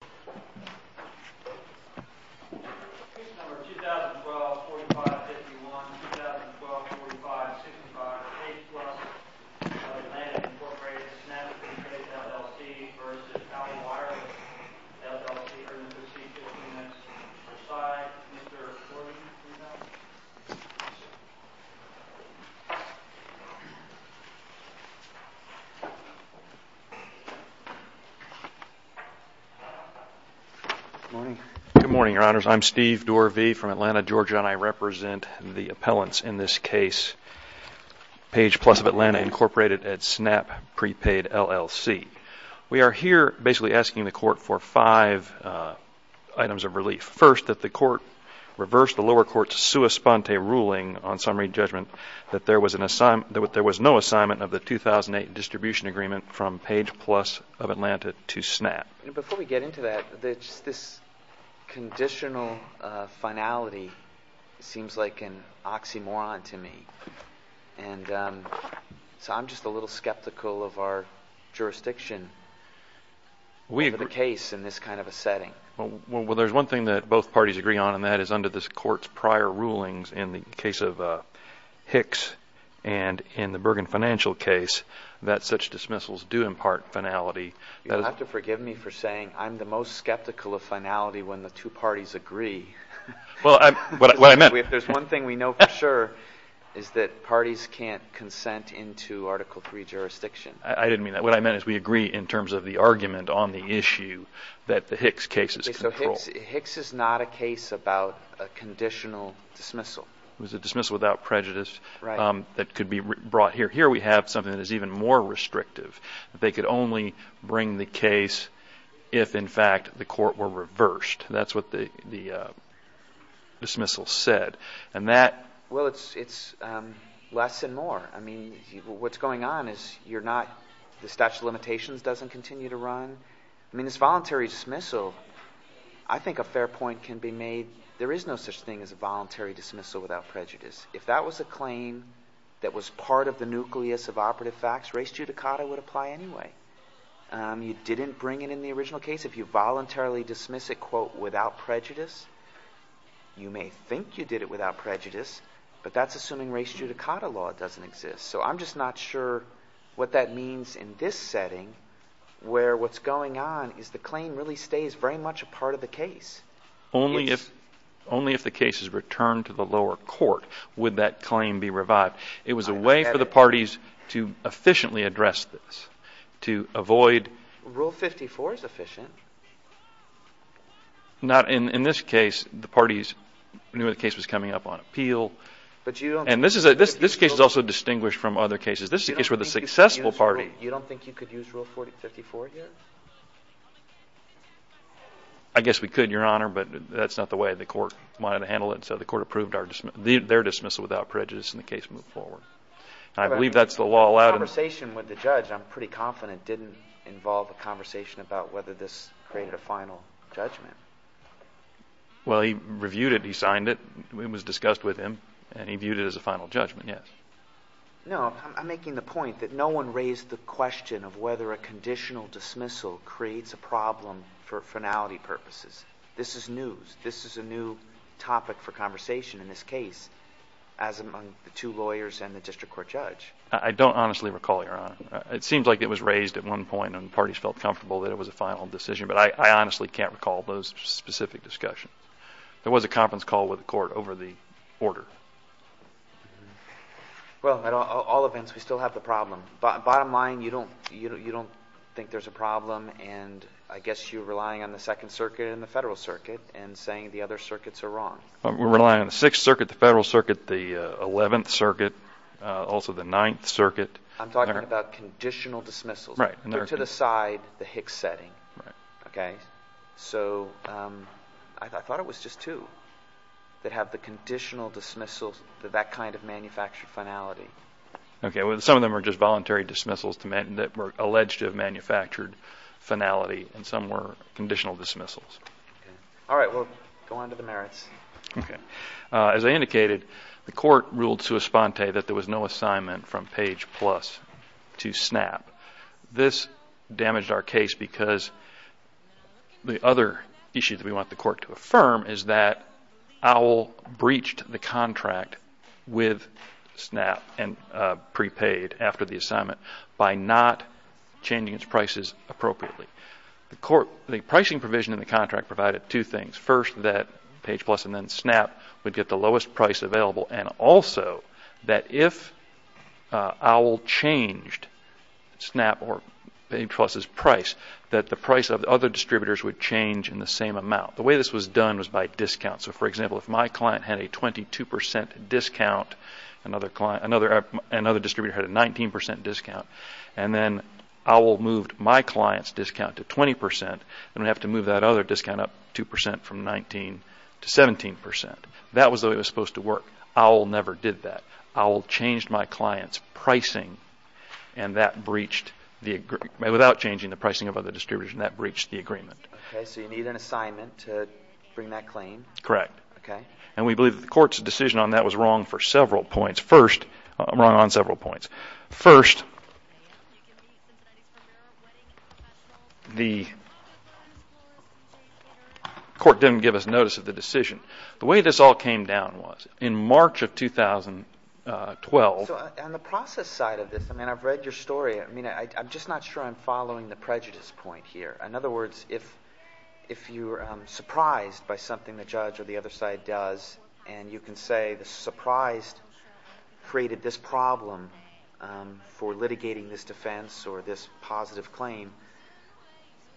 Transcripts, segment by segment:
Here is Case Number 2012-45,51 2012-45,65 H Plus of Atlanta Incorporated Snap Prepaid LLC v. Owl Wireless LLC 3016, Fil Allen X. Good morning, Your Honors. I'm Steve Dorvey from Atlanta, Georgia, and I represent the appellants in this case, Page Plus of Atlanta Incorporated at Snap Prepaid LLC. We are here basically asking the court for five items of relief. First, that the court reverse the lower court's sua sponte ruling on summary judgment that there was no assignment of the 2008 distribution agreement from Page Plus of Atlanta to Snap. Before we get into that, this conditional finality seems like an oxymoron to me. I'm just a little skeptical of our jurisdiction for the case in this kind of a setting. There's one thing that both parties agree on, and that is under this court's prior rulings in the case of Hicks and in the Bergen financial case, that such dismissals do impart finality. You'll have to forgive me for saying I'm the most skeptical of finality when the two parties agree. Well, what I meant... There's one thing we know for sure is that parties can't consent into Article III jurisdiction. I didn't mean that. What I meant is we agree in terms of the argument on the issue that the Hicks case is controlled. Hicks is not a case about a conditional dismissal. It was a dismissal without prejudice that could be brought here. Here we have something that is even more restrictive. They could only bring the case if, in fact, the court were reversed. That's what the dismissal said. Well, it's less and more. What's going on is the statute of limitations doesn't continue to run. This voluntary dismissal, I think a fair point can be made. There is no such thing as a voluntary dismissal without prejudice. If that was a claim that was part of the nucleus of operative facts, res judicata would apply anyway. You didn't bring it in the original case. If you voluntarily dismiss it, quote, without prejudice, you may think you did it without prejudice, but that's assuming res judicata law doesn't exist. So I'm just not sure what that means in this setting where what's going on is the claim really stays very much a part of the case. Only if the case is returned to the lower court would that claim be revived. It was a way for the parties to efficiently address this, to avoid... Rule 54 is efficient. Not in this case. The parties knew the case was coming up on appeal. But you don't... And this case is also distinguished from other cases. This is a case where the successful party... You don't think you could use Rule 54 here? I guess we could, Your Honor, but that's not the way the court wanted to handle it. So the court approved their dismissal without prejudice and the case moved forward. I believe that's the law allowed... The conversation with the judge, I'm pretty confident, didn't involve a conversation about whether this created a final judgment. Well, he reviewed it, he signed it, it was discussed with him, and he viewed it as a final judgment, yes. No, I'm making the point that no one raised the question of whether a conditional dismissal creates a problem for finality purposes. This is news. This is a new topic for conversation in this case, as among the two lawyers and the district court judge. I don't honestly recall, Your Honor. It seems like it was raised at one point and the parties felt comfortable that it was a final decision, but I honestly can't recall those specific discussions. There was a conference call with the court over the order. Well, at all events, we still have the problem. Bottom line, you don't think there's a problem and I guess you're relying on the Second Circuit and the Federal Circuit and saying the other circuits are wrong. We're relying on the Sixth Circuit, the Federal Circuit, the Eleventh Circuit, also the Ninth Circuit. I'm talking about conditional dismissals. Right. They're to the side, the Hicks setting. Right. Okay? So, I thought it was just two that have the conditional dismissals, that kind of manufactured finality. Okay. Some of them are just voluntary dismissals that were alleged to have manufactured finality and some were conditional dismissals. All right. We'll go on to the merits. As I indicated, the court ruled sua sponte that there was no assignment from page plus to SNAP. This damaged our case because the other issue that we want the court to affirm is that OWL breached the contract with SNAP and prepaid after the assignment by not changing its prices appropriately. The pricing provision in the contract provided two things. First, that page plus and then SNAP would get the lowest price available and also that if OWL changed SNAP or page plus' price, that the price of the other distributors would change in the same amount. The way this was done was by discount. So, for example, if my client had a 22 percent discount, another distributor had a 19 percent discount and then OWL moved my client's discount to 20 percent, then we have to move that other discount up 2 percent from 19 to 17 percent. That was the way it was supposed to work. OWL never did that. OWL changed my client's pricing and that breached the agreement without changing the pricing of other distributors and that breached the agreement. Okay, so you need an assignment to bring that claim? Correct. And we believe the court's decision on that was wrong for several points. First, I'm wrong on several points. First, the court didn't give us notice of the decision. The way this all came down was, in March of 2012... So, on the process side of this, I mean, I've read your story. I mean, I'm just not sure I'm following the prejudice point here. In other words, if you're surprised by something the judge or the other side does and you can say the surprise created this problem for litigating this defense or this positive claim,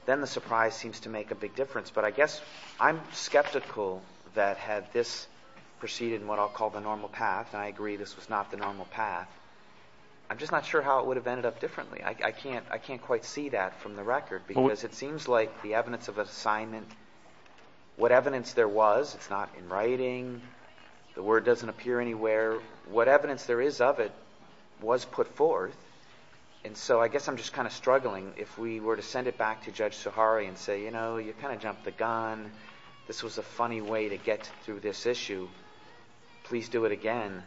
then the surprise seems to make a big difference. But I guess I'm skeptical that had this proceeded in what I'll call the normal path, and I agree this was not the normal path, I'm just not sure how it would have ended up differently. I can't quite see that from the record because it seems like the evidence of an assignment, what evidence there was, it's not in writing, the word doesn't appear anywhere, what evidence there is of it was put forth, and so I guess I'm just kind of struggling. If we were to send it back to Judge Sahari and say, you know, you kind of jumped the gun, this was a funny way to get through this issue, please do it again,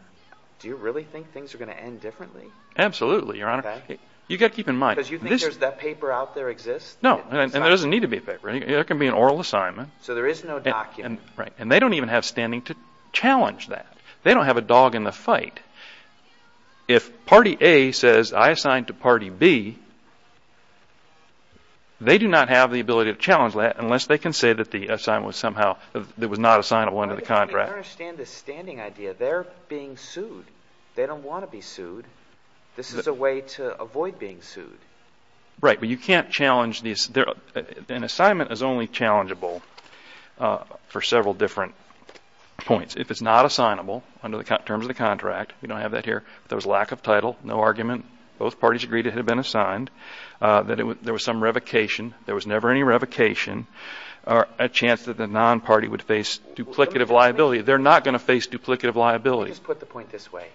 do you really think things are going to end differently? Absolutely, Your Honor. You've got to keep in mind... Because you think that paper out there exists? No, and there doesn't need to be a paper. It can be an oral assignment. So there is no document. Right. And they don't even have standing to challenge that. They don't have a dog in the fight. If Party A says, I assigned to Party B, they do not have the ability to challenge that unless they can say that the assignment was somehow, that it was not a sign of one of the contractors. I don't understand this standing idea. They're being sued. They don't want to be sued. This is a way to avoid being sued. Right, but you can't challenge these. An assignment is only challengeable for several different points. If it's not assignable under the terms of the contract, we don't have that here, if there was lack of title, no argument, both parties agreed it had been assigned, that there was some revocation, there was never any revocation, a chance that the non-party would face duplicative liability. They're not going to face duplicative liability. Let me just put the point this way.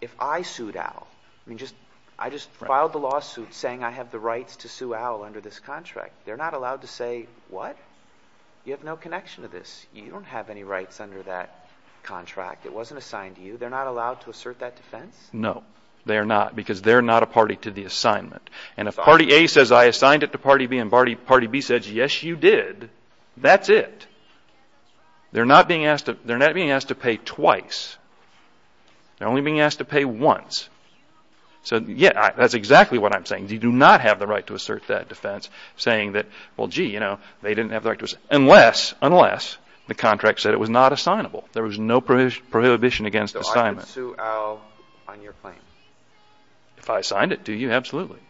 If I sued Owl, I just filed the lawsuit saying I have the rights to sue Owl under this contract. They're not allowed to say, what? You have no connection to this. You don't have any rights under that contract. It wasn't assigned to you. They're not allowed to assert that defense? No, they're not, because they're not a party to the assignment. And if Party A says I assigned it to Party B and Party B says, yes, you did, that's it. They're not being asked to pay twice. They're only being asked to pay once. So, yeah, that's exactly what I'm saying. You do not have the right to assert that defense, saying that, well, gee, you know, they didn't have the right to, unless, unless the contract said it was not assignable. There was no prohibition against assignment. So I could sue Owl on your claim? If I assigned it to you, absolutely.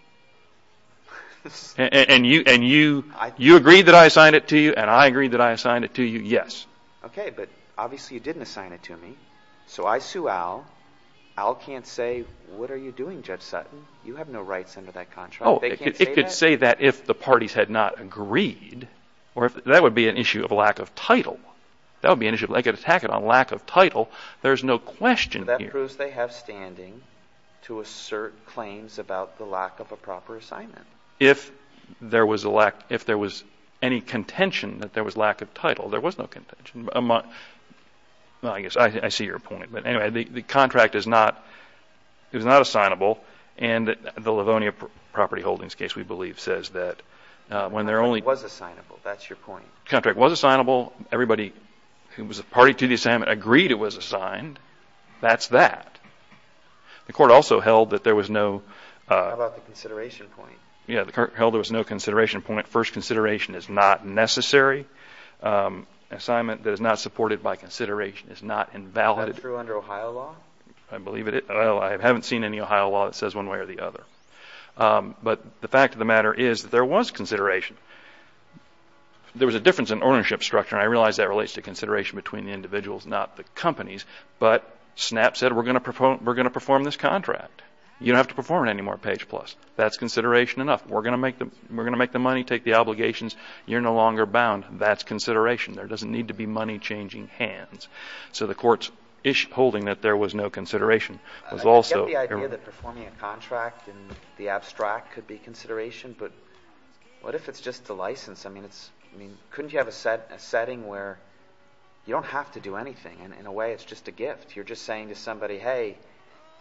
And you, and you, you agreed that I assigned it to you, and I agreed that I assigned it to you, yes. Okay, but obviously you didn't assign it to me. So I sue Owl. Owl can't say, what are you doing, Judge Sutton? You have no rights under that contract. They can't say that? Oh, it could say that if the parties had not agreed, or if, that would be an issue of lack of title. That would be an issue, they could attack it on lack of title. There's no question here. Well, that proves they have standing to assert claims about the lack of a proper assignment. If there was a lack, if there was any contention that there was lack of title, there was no contention. Well, I guess, I see your point. But anyway, the contract is not, it was not assignable, and the Livonia property holdings case, we believe, says that when there only Contract was assignable. That's your point. Contract was assignable. Everybody who was a party to the assignment agreed it was assigned. That's that. The court also held that there was no How about the consideration point? Yeah, the court held there was no consideration point. First consideration is not necessary. Assignment that is not supported by consideration is not invalid. Is that true under Ohio law? I believe it is. I haven't seen any Ohio law that says one way or the other. But the fact of the matter is that there was consideration. There was a difference in ownership structure, and I realize that relates to consideration between the individuals, not the companies. But SNAP said, we're going to perform this contract. You don't have to perform it anymore, page plus. That's consideration enough. We're going to make the money, take the obligations. You're no longer bound. That's consideration. There doesn't need to be money changing hands. So the court's holding that there was no consideration was also I get the idea that performing a contract in the abstract could be consideration, but What if it's just a license? I mean, couldn't you have a setting where you don't have to do anything? In a way, it's just a gift. You're just saying to somebody, hey,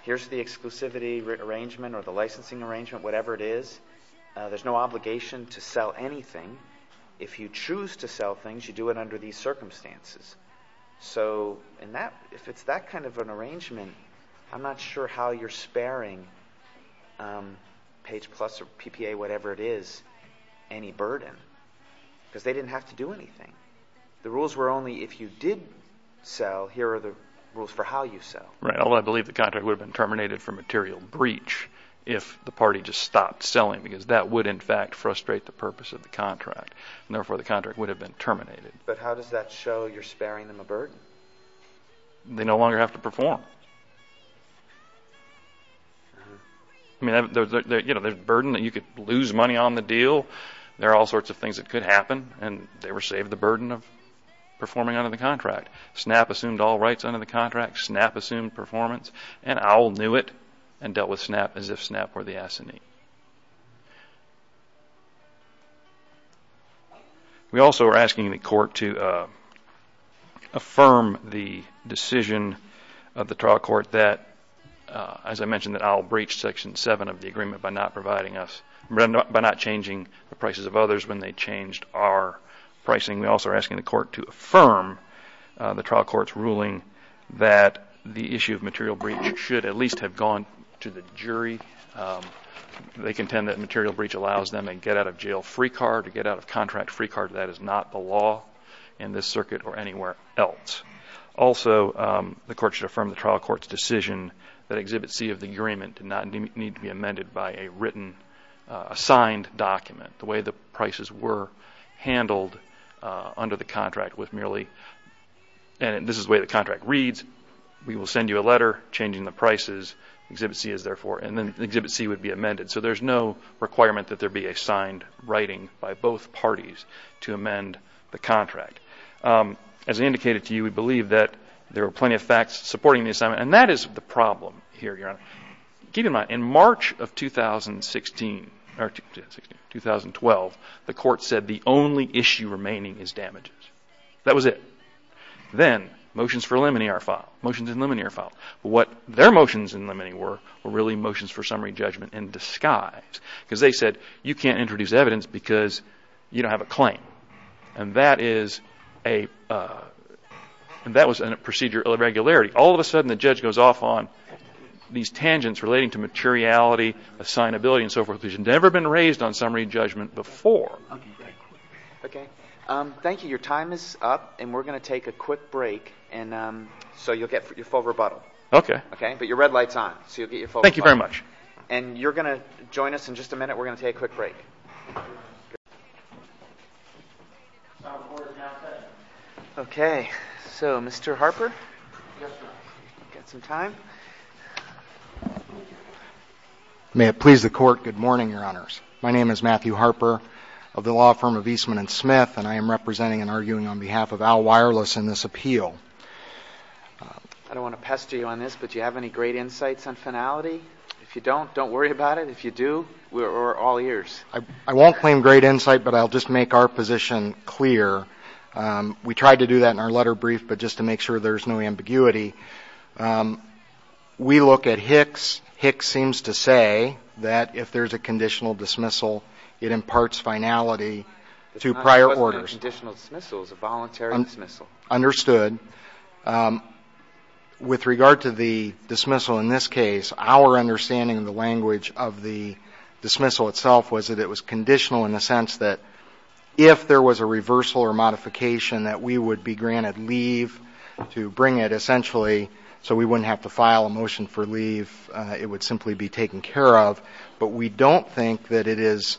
here's the exclusivity arrangement or the licensing arrangement, whatever it is. There's no obligation to sell anything. If you choose to sell things, you do it under these circumstances. So if it's that kind of an arrangement, I'm not sure how you're sparing page plus or PPA, whatever it is, any burden because they didn't have to do anything. The rules were only if you did sell, here are the rules for how you sell. Right. Although I believe the contract would have been terminated for material breach if the party just stopped selling, because that would in fact frustrate the purpose of the contract. And therefore the contract would have been terminated. But how does that show you're sparing them a burden? They no longer have to perform. I mean, there's a burden that you could lose money on the deal. There are all sorts of things that could happen. And they were saved the burden of performing under the contract. SNAP assumed all rights under the contract. SNAP assumed performance. And OWL knew it and dealt with SNAP as if SNAP were the assignee. We also are asking the court to affirm the decision of the trial court that, as I mentioned that OWL breached section 7 of the agreement by not providing us, by not changing the prices of others when they changed our pricing. We also are asking the court to affirm the trial court's ruling that the issue of material breach should at least have gone to the jury. They contend that material breach allows them to get out of jail free card, to get out of contract free card. That is not the law in this circuit or anywhere else. Also, the court should affirm the trial court's decision that Exhibit C of the agreement did not need to be amended by a written, a signed document. The way the prices were handled under the contract was merely, and this is the way the contract reads, we will send you a letter changing the prices, Exhibit C is there for, and then Exhibit C would be amended. So there is no requirement that there be a signed writing by both parties to amend the contract. As I indicated to you, we believe that there are plenty of facts supporting the assignment. And that is the problem here, Your Honor. Keep in mind, in March of 2016, or 2012, the court said the only issue remaining is damages. That was it. Then motions for limine are filed. Motions in limine are filed. But what their motions in limine were, were really motions for summary judgment in disguise. Because they said, you can't introduce evidence because you don't have a claim. And that was a procedure of irregularity. All of a sudden, the judge goes off on these tangents relating to materiality, assignability, and so forth, which had never been raised on summary judgment before. Okay. Thank you. Your time is up, and we're going to take a quick break. And so you'll get your full rebuttal. Okay. Okay? But your red light's on, so you'll get your full rebuttal. Thank you very much. And you're going to join us in just a minute. We're going to take a quick break. Okay. So, Mr. Harper? Yes, sir. Got some time? May it please the Court, good morning, Your Honors. My name is Matthew Harper of the law firm of Eastman and Smith, and I am representing and arguing on behalf of Al Wireless in this appeal. I don't want to pester you on this, but do you have any great insights on finality? If you don't, don't worry about it. If you do, we're all ears. I won't claim great insight, but I'll just make our position clear. We tried to do that in our letter brief, but just to make sure there's no ambiguity. We look at Hicks. Hicks seems to say that if there's a conditional dismissal, it imparts finality to prior orders. Conditional dismissal is a voluntary dismissal. Understood. With regard to the dismissal in this case, our understanding of the language of the dismissal itself was that it was conditional in the sense that if there was a reversal or modification, that we would be granted leave to bring it, essentially, so we wouldn't have to file a motion for leave. It would simply be taken care of. But we don't think that it is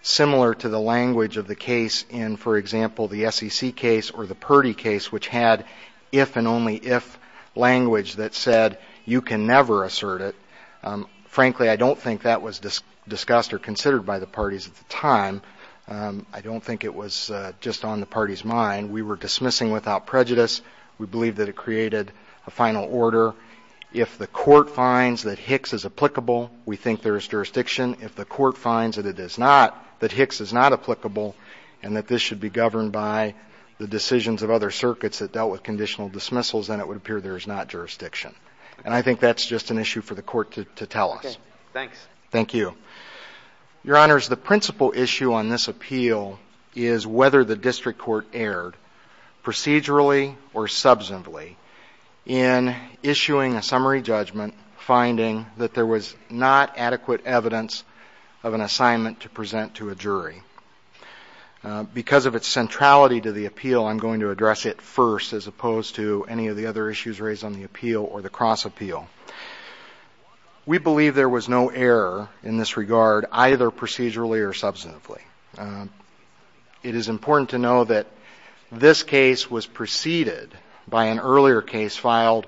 similar to the language of the case in, for example, the SEC case or the Purdy case, which had if and only if language that said you can never assert it. Frankly, I don't think that was discussed or considered by the parties at the time. I don't think it was just on the parties' mind. We were dismissing without prejudice. We believe that it created a final order. If the court finds that Hicks is applicable, we think there is jurisdiction. If the court finds that it is not, that Hicks is not applicable and that this should be governed by the decisions of other circuits that dealt with conditional dismissals, then it would appear there is not jurisdiction. And I think that's just an issue for the court to tell us. Okay. Thanks. Thank you. Your Honors, the principal issue on this appeal is whether the district court erred procedurally or subsequently in issuing a summary judgment finding that there was not adequate evidence of an assignment to present to a jury. Because of its centrality to the appeal, I'm going to address it first as opposed to any of the other issues raised on the appeal or the cross appeal. We believe there was no error in this regard, either procedurally or subsequently. It is important to know that this case was preceded by an earlier case filed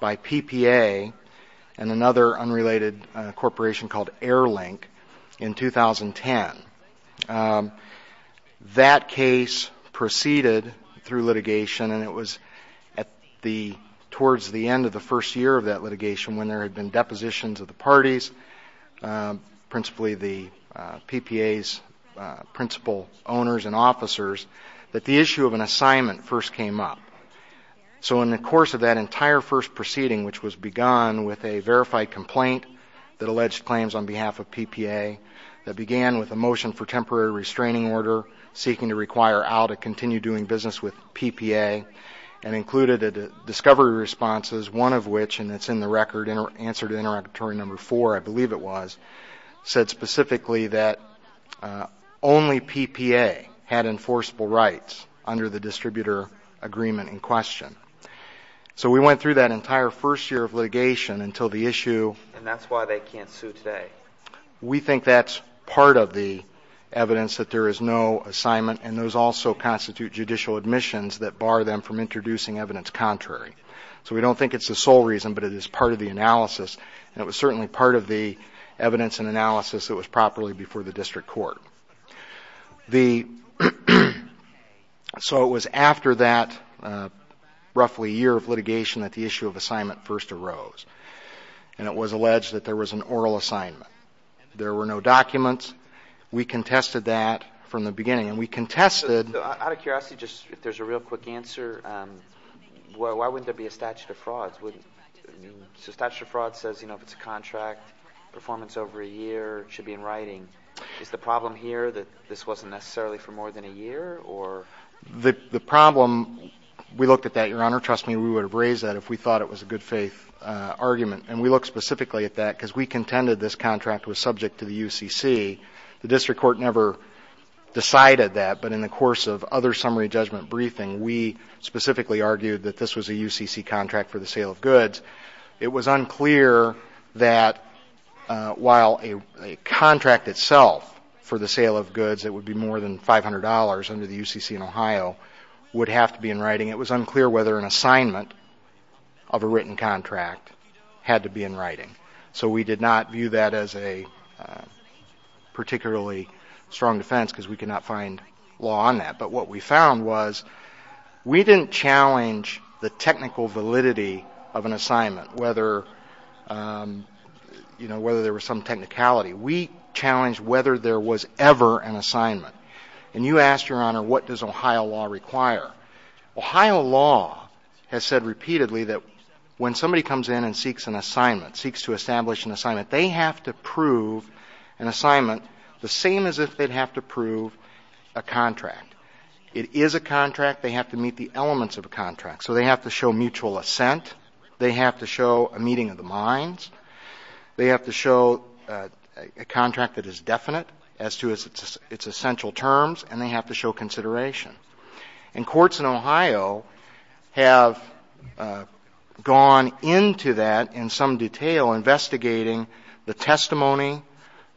by PPA and another unrelated corporation called Air Link in 2010. That case proceeded through litigation and it was at the towards the end of the first year of that litigation when there had been depositions of the parties, principally the PPA's principal owners and officers, that the issue of an assignment first came up. So in the course of that entire first proceeding, which was begun with a verified complaint that alleged claims on behalf of PPA, that began with a motion for temporary restraining order seeking to require Al to continue doing business with PPA and included discovery responses, one of which, and it's in the record, answer to interrogatory number four, I believe it was, said specifically that only PPA had enforceable rights under the distributor agreement in question. So we went through that entire first year of litigation until the issue... And that's why they can't sue today. We think that's part of the evidence that there is no assignment and those also constitute judicial admissions that bar them from introducing evidence contrary. So we don't think it's the sole reason, but it is part of the analysis and it was certainly part of the evidence and analysis that was properly before the district court. So it was after that roughly year of litigation that the issue of assignment first arose and it was alleged that there was an oral assignment. There were no documents. We contested that from the beginning and we contested... Out of curiosity, just if there's a real quick answer, why wouldn't there be a statute of the year? It should be in writing. Is the problem here that this wasn't necessarily for more than a year or... The problem, we looked at that, Your Honor. Trust me, we would have raised that if we thought it was a good faith argument and we looked specifically at that because we contended this contract was subject to the UCC. The district court never decided that, but in the course of other summary judgment briefing, we specifically argued that this was a UCC contract for the sale of goods. It was unclear that while a contract itself for the sale of goods, it would be more than $500 under the UCC in Ohio, would have to be in writing. It was unclear whether an assignment of a written contract had to be in writing. So we did not view that as a particularly strong defense because we could not find law on that. But what we found was we didn't challenge the technical validity of an assignment, whether there was some technicality. We challenged whether there was ever an assignment. And you asked, Your Honor, what does Ohio law require? Ohio law has said repeatedly that when somebody comes in and seeks an assignment, seeks to establish an assignment, they have to prove an assignment the same as if they'd have to prove a contract. It is a contract. They have to meet the elements of a contract. So they have to show mutual assent. They have to show a meeting of the minds. They have to show a contract that is definite as to its essential terms. And they have to show consideration. And courts in Ohio have gone into that in some detail, investigating the testimony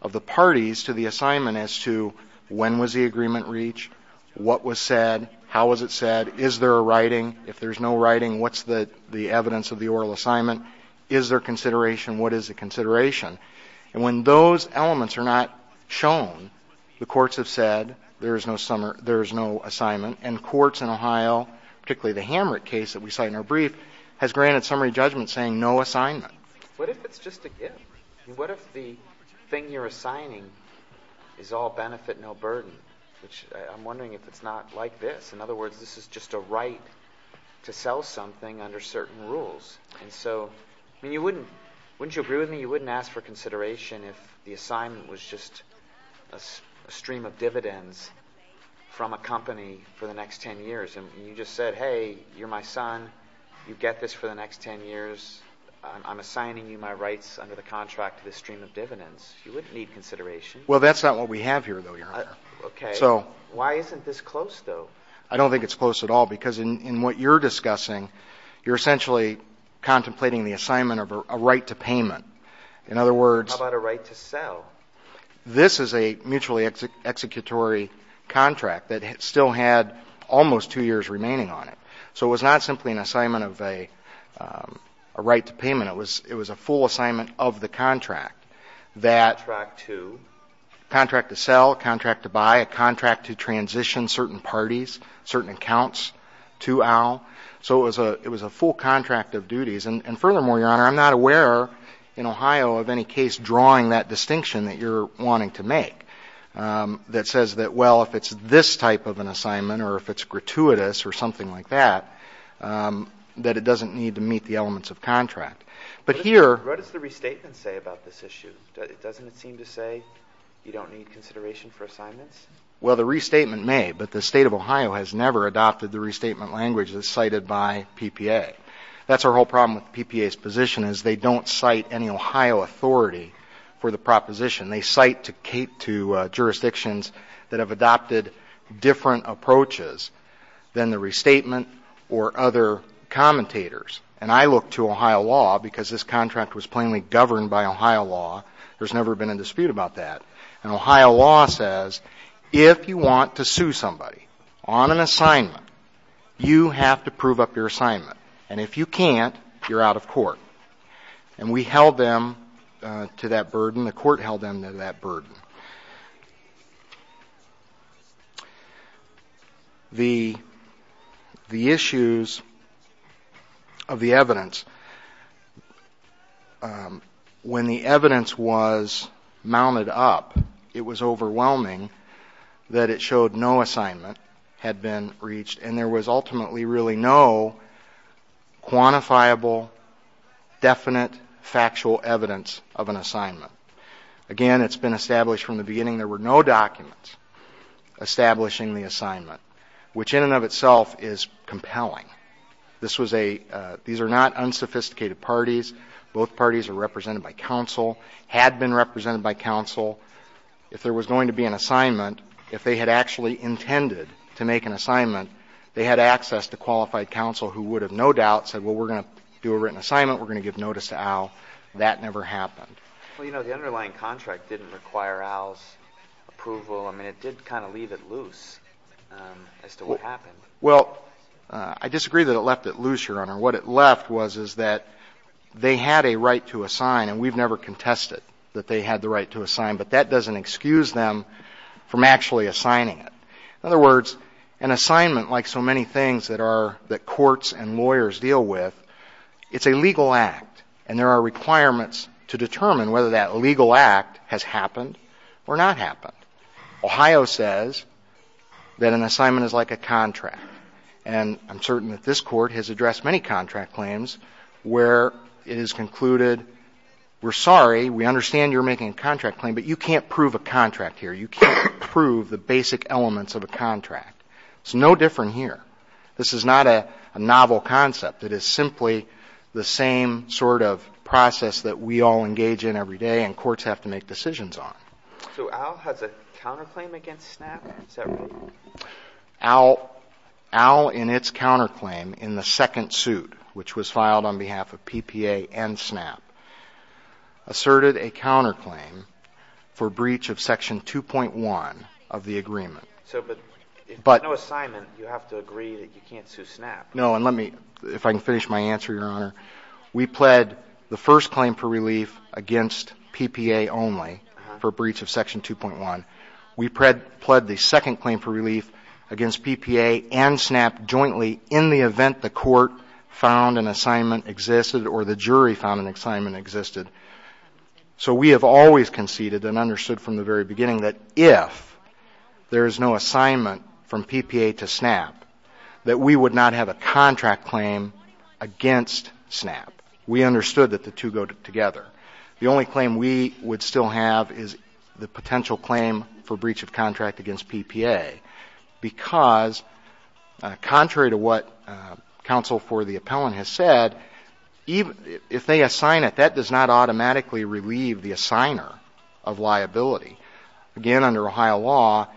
of the parties to the assignment as to when was the agreement reached, what was said, how was it said, is there a writing? If there's no writing, what's the evidence of the oral assignment? Is there consideration? What is the consideration? And when those elements are not shown, the courts have said there is no assignment. And courts in Ohio, particularly the Hamrick case that we cite in our brief, has granted summary judgment saying no assignment. What if it's just a gift? What if the thing you're assigning is all benefit, no burden? Which I'm wondering if it's not like this. In other words, this is just a right to sell something under certain rules. And so, I mean, you wouldn't, wouldn't you agree with me you wouldn't ask for consideration if the assignment was just a stream of dividends from a company for the next 10 years? And you just said, hey, you're my son. You get this for the next 10 years. I'm assigning you my rights under the contract to this stream of dividends. You wouldn't need consideration. Well, that's not what we have here, though, Your Honor. Okay. So why isn't this close, though? I don't think it's close at all, because in what you're discussing, you're essentially contemplating the assignment of a right to payment. In other words — How about a right to sell? This is a mutually executory contract that still had almost two years remaining on it. So it was not simply an assignment of a, a right to payment. It was, it was a full assignment of the contract that — Contract to? Contract to sell, contract to buy, a contract to transition certain parties, certain accounts to Al. So it was a, it was a full contract of duties. And furthermore, Your Honor, I'm not aware in Ohio of any case drawing that distinction that you're wanting to make, that says that, well, if it's this type of an assignment, or if it's gratuitous or something like that, that it doesn't need to meet the elements of contract. But here — What does the restatement say about this issue? Doesn't it seem to say you don't need consideration for assignments? Well, the restatement may, but the State of Ohio has never adopted the restatement language as cited by PPA. That's our whole problem with PPA's position, is they don't cite any Ohio authority for the proposition. They cite to jurisdictions that have adopted different approaches than the restatement or other commentators. And I look to Ohio law because this contract was plainly governed by Ohio law. There's never been a dispute about that. And Ohio law says, if you want to sue somebody on an assignment, you have to prove up your assignment. And if you can't, you're out of court. And we held them to that burden. The Court held them to that burden. The issues of the evidence, when the evidence was mounted up, it was over a period of time. It was overwhelming that it showed no assignment had been reached. And there was ultimately really no quantifiable, definite, factual evidence of an assignment. Again, it's been established from the beginning there were no documents establishing the assignment, which in and of itself is compelling. This was a — these are not unsophisticated parties. Both parties are represented by counsel, had been represented by counsel. If there was going to be an assignment, if they had actually intended to make an assignment, they had access to qualified counsel who would have no doubt said, well, we're going to do a written assignment, we're going to give notice to Al. That never happened. Well, you know, the underlying contract didn't require Al's approval. I mean, it did kind of leave it loose as to what happened. Well, I disagree that it left it loose, Your Honor. What it left was, is that they had a right to assign, and we've never contested that they had the right to assign, but that doesn't excuse them from actually assigning it. In other words, an assignment, like so many things that are — that courts and lawyers deal with, it's a legal act, and there are requirements to determine whether that legal act has happened or not happened. Ohio says that an assignment is like a contract. And I'm certain that this Court has addressed many contract claims where it is concluded, we're sorry, we understand you're making a contract claim, but you can't prove a contract here. You can't prove the basic elements of a contract. It's no different here. This is not a novel concept. It is simply the same sort of process that we all engage in every day and courts have to make decisions on. So Al has a counterclaim against SNAP? Is that right? Al, in its counterclaim in the second suit, which was filed on behalf of PPA and SNAP, asserted a counterclaim for breach of Section 2.1 of the agreement. So, but if there's no assignment, you have to agree that you can't sue SNAP? No, and let me — if I can finish my answer, Your Honor. We pled the first claim for relief against PPA only for breach of Section 2.1. We pled the second claim for relief against PPA and SNAP jointly in the event the Court found an assignment existed or the jury found an assignment existed. So we have always conceded and understood from the very beginning that if there is no assignment from PPA to SNAP, that we would not have a contract claim against SNAP. We understood that the two go together. The only claim we would still have is the potential claim for breach of contract against PPA because contrary to what counsel for the appellant has said, if they assign it, that does not automatically relieve the assigner of liability. Again, under Ohio law,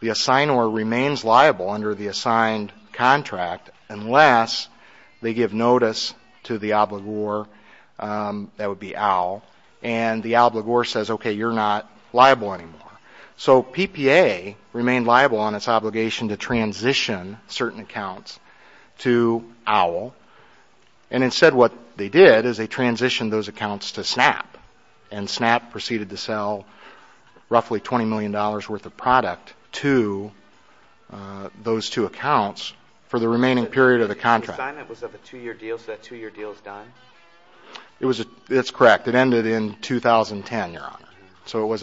the assigner remains liable under the assigned contract unless they give notice to the obligor, that would be OWL, and the obligor says, okay, you're not liable anymore. So PPA remained liable on its obligation to transition certain accounts to OWL and instead what they did is they transitioned those accounts to SNAP and SNAP proceeded to sell roughly $20 million worth of product to those two accounts for the remaining period of the contract. The assignment was of a two-year deal, so that two-year deal is done? It's correct. It ended in 2010, Your Honor. So it was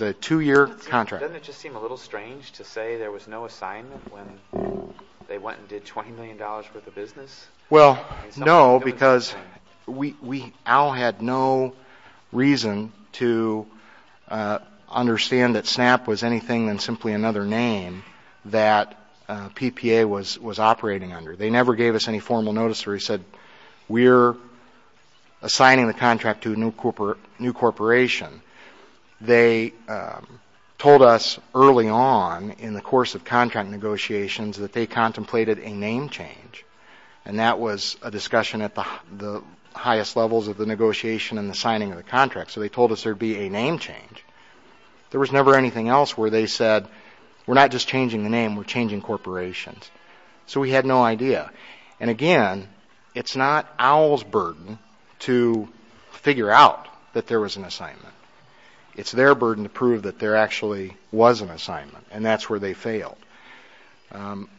a two-year contract. Doesn't it just seem a little strange to say there was no assignment when they went and did $20 million worth of business? Well, no, because OWL had no reason to understand that SNAP was anything than simply another name that PPA was operating under. They never gave us any formal notice where we said we're assigning the contract to a new corporation. They told us early on in the course of contract negotiations that they contemplated a name change and that was a discussion at the highest levels of the negotiation and the signing of the contract, so they told us there would There was never anything else where they said we're not just changing the name, we're changing corporations. So we had no idea. And again, it's not OWL's burden to figure out that there was an assignment. It's their burden to prove that there actually was an assignment and that's where they failed.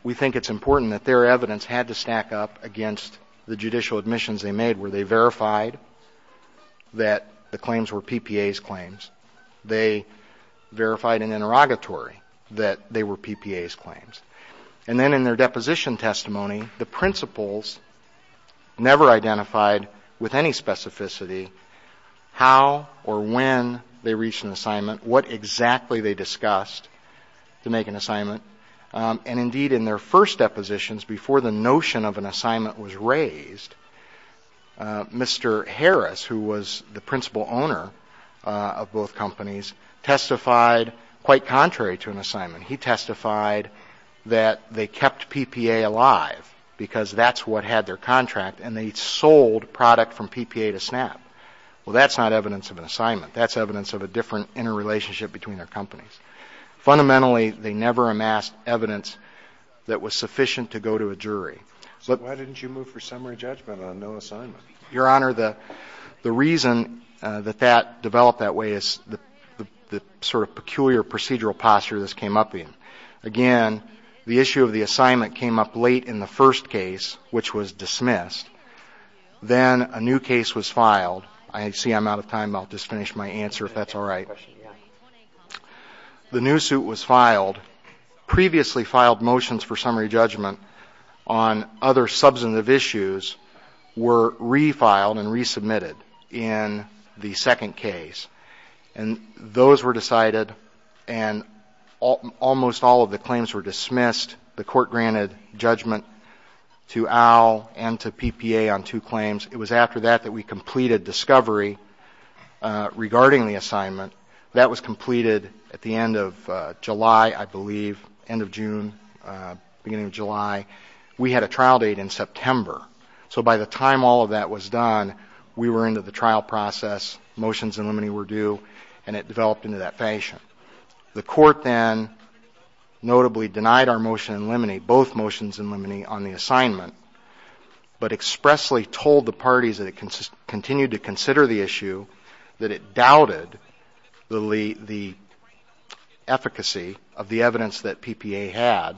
We think it's important that their evidence had to stack up against the judicial admissions they made where they verified that the claims were PPA's claims. They verified in interrogatory that they were PPA's claims. And then in their deposition testimony, the principals never identified with any specificity how or when they reached an assignment, what exactly they discussed to make an assignment, and indeed in their first depositions before the notion of an assignment was raised, Mr. Harris, who was the principal owner of both companies, testified quite contrary to an assignment. He testified that they kept PPA alive because that's what had their contract and they sold product from PPA to SNAP. Well, that's not evidence of an assignment. That's evidence of a different interrelationship between their companies. Fundamentally, they never amassed evidence that was sufficient to go to a jury. So why didn't you move for summary judgment on no assignment? Your Honor, the reason that that developed that way is the sort of peculiar procedural posture this came up in. Again, the issue of the assignment came up late in the first case, which was dismissed. Then a new case was filed. I see I'm out of time. I'll just The new suit was filed. Previously filed motions for summary judgment on other substantive issues were refiled and resubmitted in the second case. And those were decided and almost all of the claims were dismissed. The court granted judgment to OWL and to PPA on two That was completed at the end of July, I believe, end of June, beginning of July. We had a trial date in September. So by the time all of that was done, we were into the trial process. Motions in limine were due and it developed into that fashion. The court then notably denied our motion in limine, both motions in limine on the assignment, but expressly told the parties that it continued to consider the issue that it doubted the efficacy of the evidence that PPA had,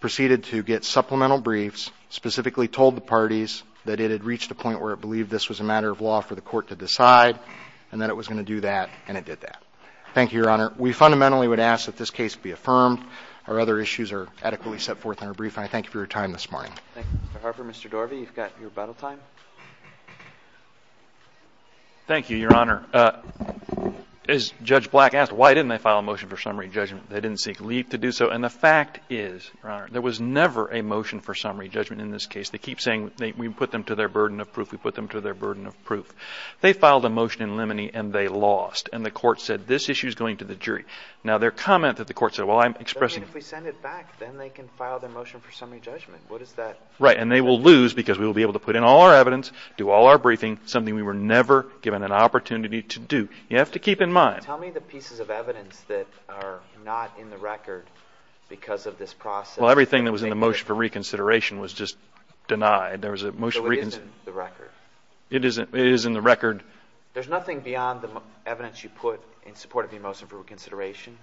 proceeded to get supplemental briefs, specifically told the parties that it had reached a point where it believed this was a matter of law for the court to decide and that it was going to do that. And it did that. Thank you, Your Honor. We fundamentally would ask that this case be affirmed. Our other issues are adequately set forth in our brief. I thank you for your time this morning. Thank you, Mr. Harper. Mr. Dorvey, you've got your rebuttal time. Thank you, Your Honor. As Judge Black asked, why didn't they file a motion for summary judgment? They didn't seek leave to do so. And the fact is, Your Honor, there was never a motion for summary judgment in this case. They keep saying we put them to their burden of proof, we put them to their burden of proof. They filed a motion in limine and they lost. And the court said this issue is going to the jury. Now, their comment that the court said, well, I'm expressing I mean, if we send it back, then they can file their motion for summary judgment. What is that? Right. And they will lose because we will be able to put in all our evidence, do all our briefing, something we were never given an opportunity to do. You have to keep in mind. Tell me the pieces of evidence that are not in the record because of this process. Well, everything that was in the motion for reconsideration was just denied. There was a motion for reconsideration. So it isn't in the record? It is in the record. There's nothing beyond the evidence you put in support of the motion for reconsideration?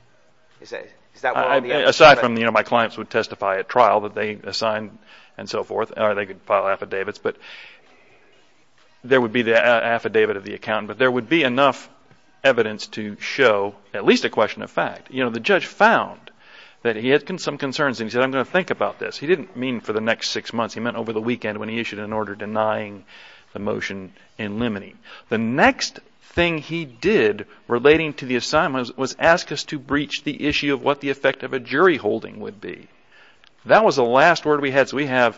Aside from, you know, my clients would testify at trial that they assigned and so forth, or they could file affidavits, but there would be the affidavit of the accountant, but there would be enough evidence to show at least a question of fact. You know, the judge found that he had some concerns and he said, I'm going to think about this. He didn't mean for the next six months. He meant over the weekend when he issued an order denying the motion in limine. The next thing he did relating to the assignment was ask us to breach the issue of what the effect of a jury holding would be. That was the last word we had. So we have,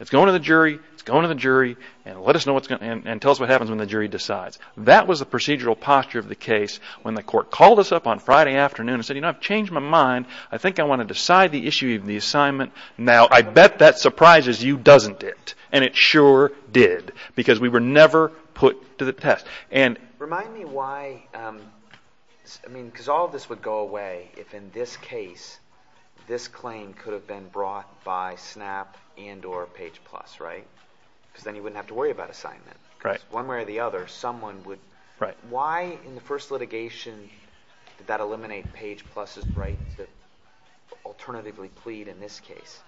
it's going to the jury, it's going to the jury, and tell us what happens when the jury decides. That was the procedural posture of the case when the court called us up on Friday afternoon and said, you know, I've changed my mind. I think I want to decide the issue of the assignment. Now, I bet that surprises you, doesn't it? And it sure did because we were never put to the test. Remind me why, I mean, because all of this would go away if in this case this claim could have been brought by SNAP and or Page Plus, right? Because then you wouldn't have to worry about assignment. Because one way or the other, someone would, why in the first litigation did that eliminate Page Plus' right to alternatively plead in this case?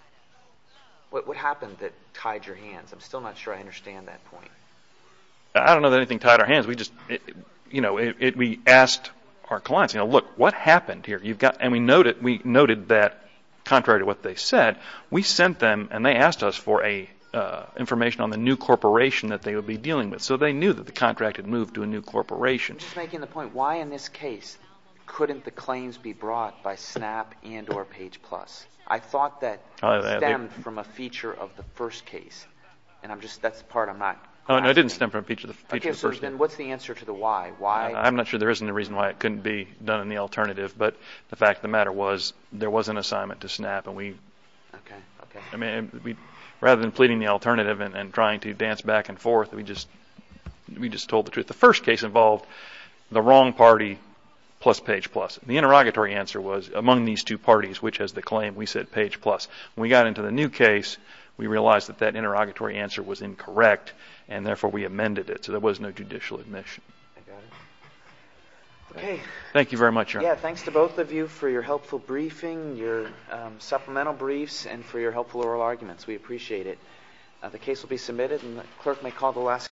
What happened that tied your hands? I'm still not sure I understand that point. I don't know that anything tied our hands. We just, you know, we asked our clients, you know, look, what happened here? And we noted that contrary to what they said, we sent them and they asked us for information on the new corporation that they would be dealing with. So they knew that the contract had moved to a new corporation. I'm just making the point, why in this case couldn't the claims be brought by SNAP and or Page Plus? I thought that stemmed from a feature of the first case. And I'm just, that's the part I'm not. No, it didn't stem from a feature of the first case. Okay, so then what's the answer to the why? Why? I'm not sure there isn't a reason why it couldn't be done in the alternative. But the fact of the matter was, there was an assignment to SNAP and we, rather than pleading the alternative and trying to dance back and forth, we just told the truth. The first case involved the interrogatory answer was among these two parties, which is the claim we said Page Plus. When we got into the new case, we realized that that interrogatory answer was incorrect and therefore we amended it. So there was no judicial admission. I got it. Okay. Thank you very much, Your Honor. Yeah, thanks to both of you for your helpful briefing, your supplemental briefs, and for your helpful oral arguments. We appreciate it. The case will be submitted and the clerk may call the last.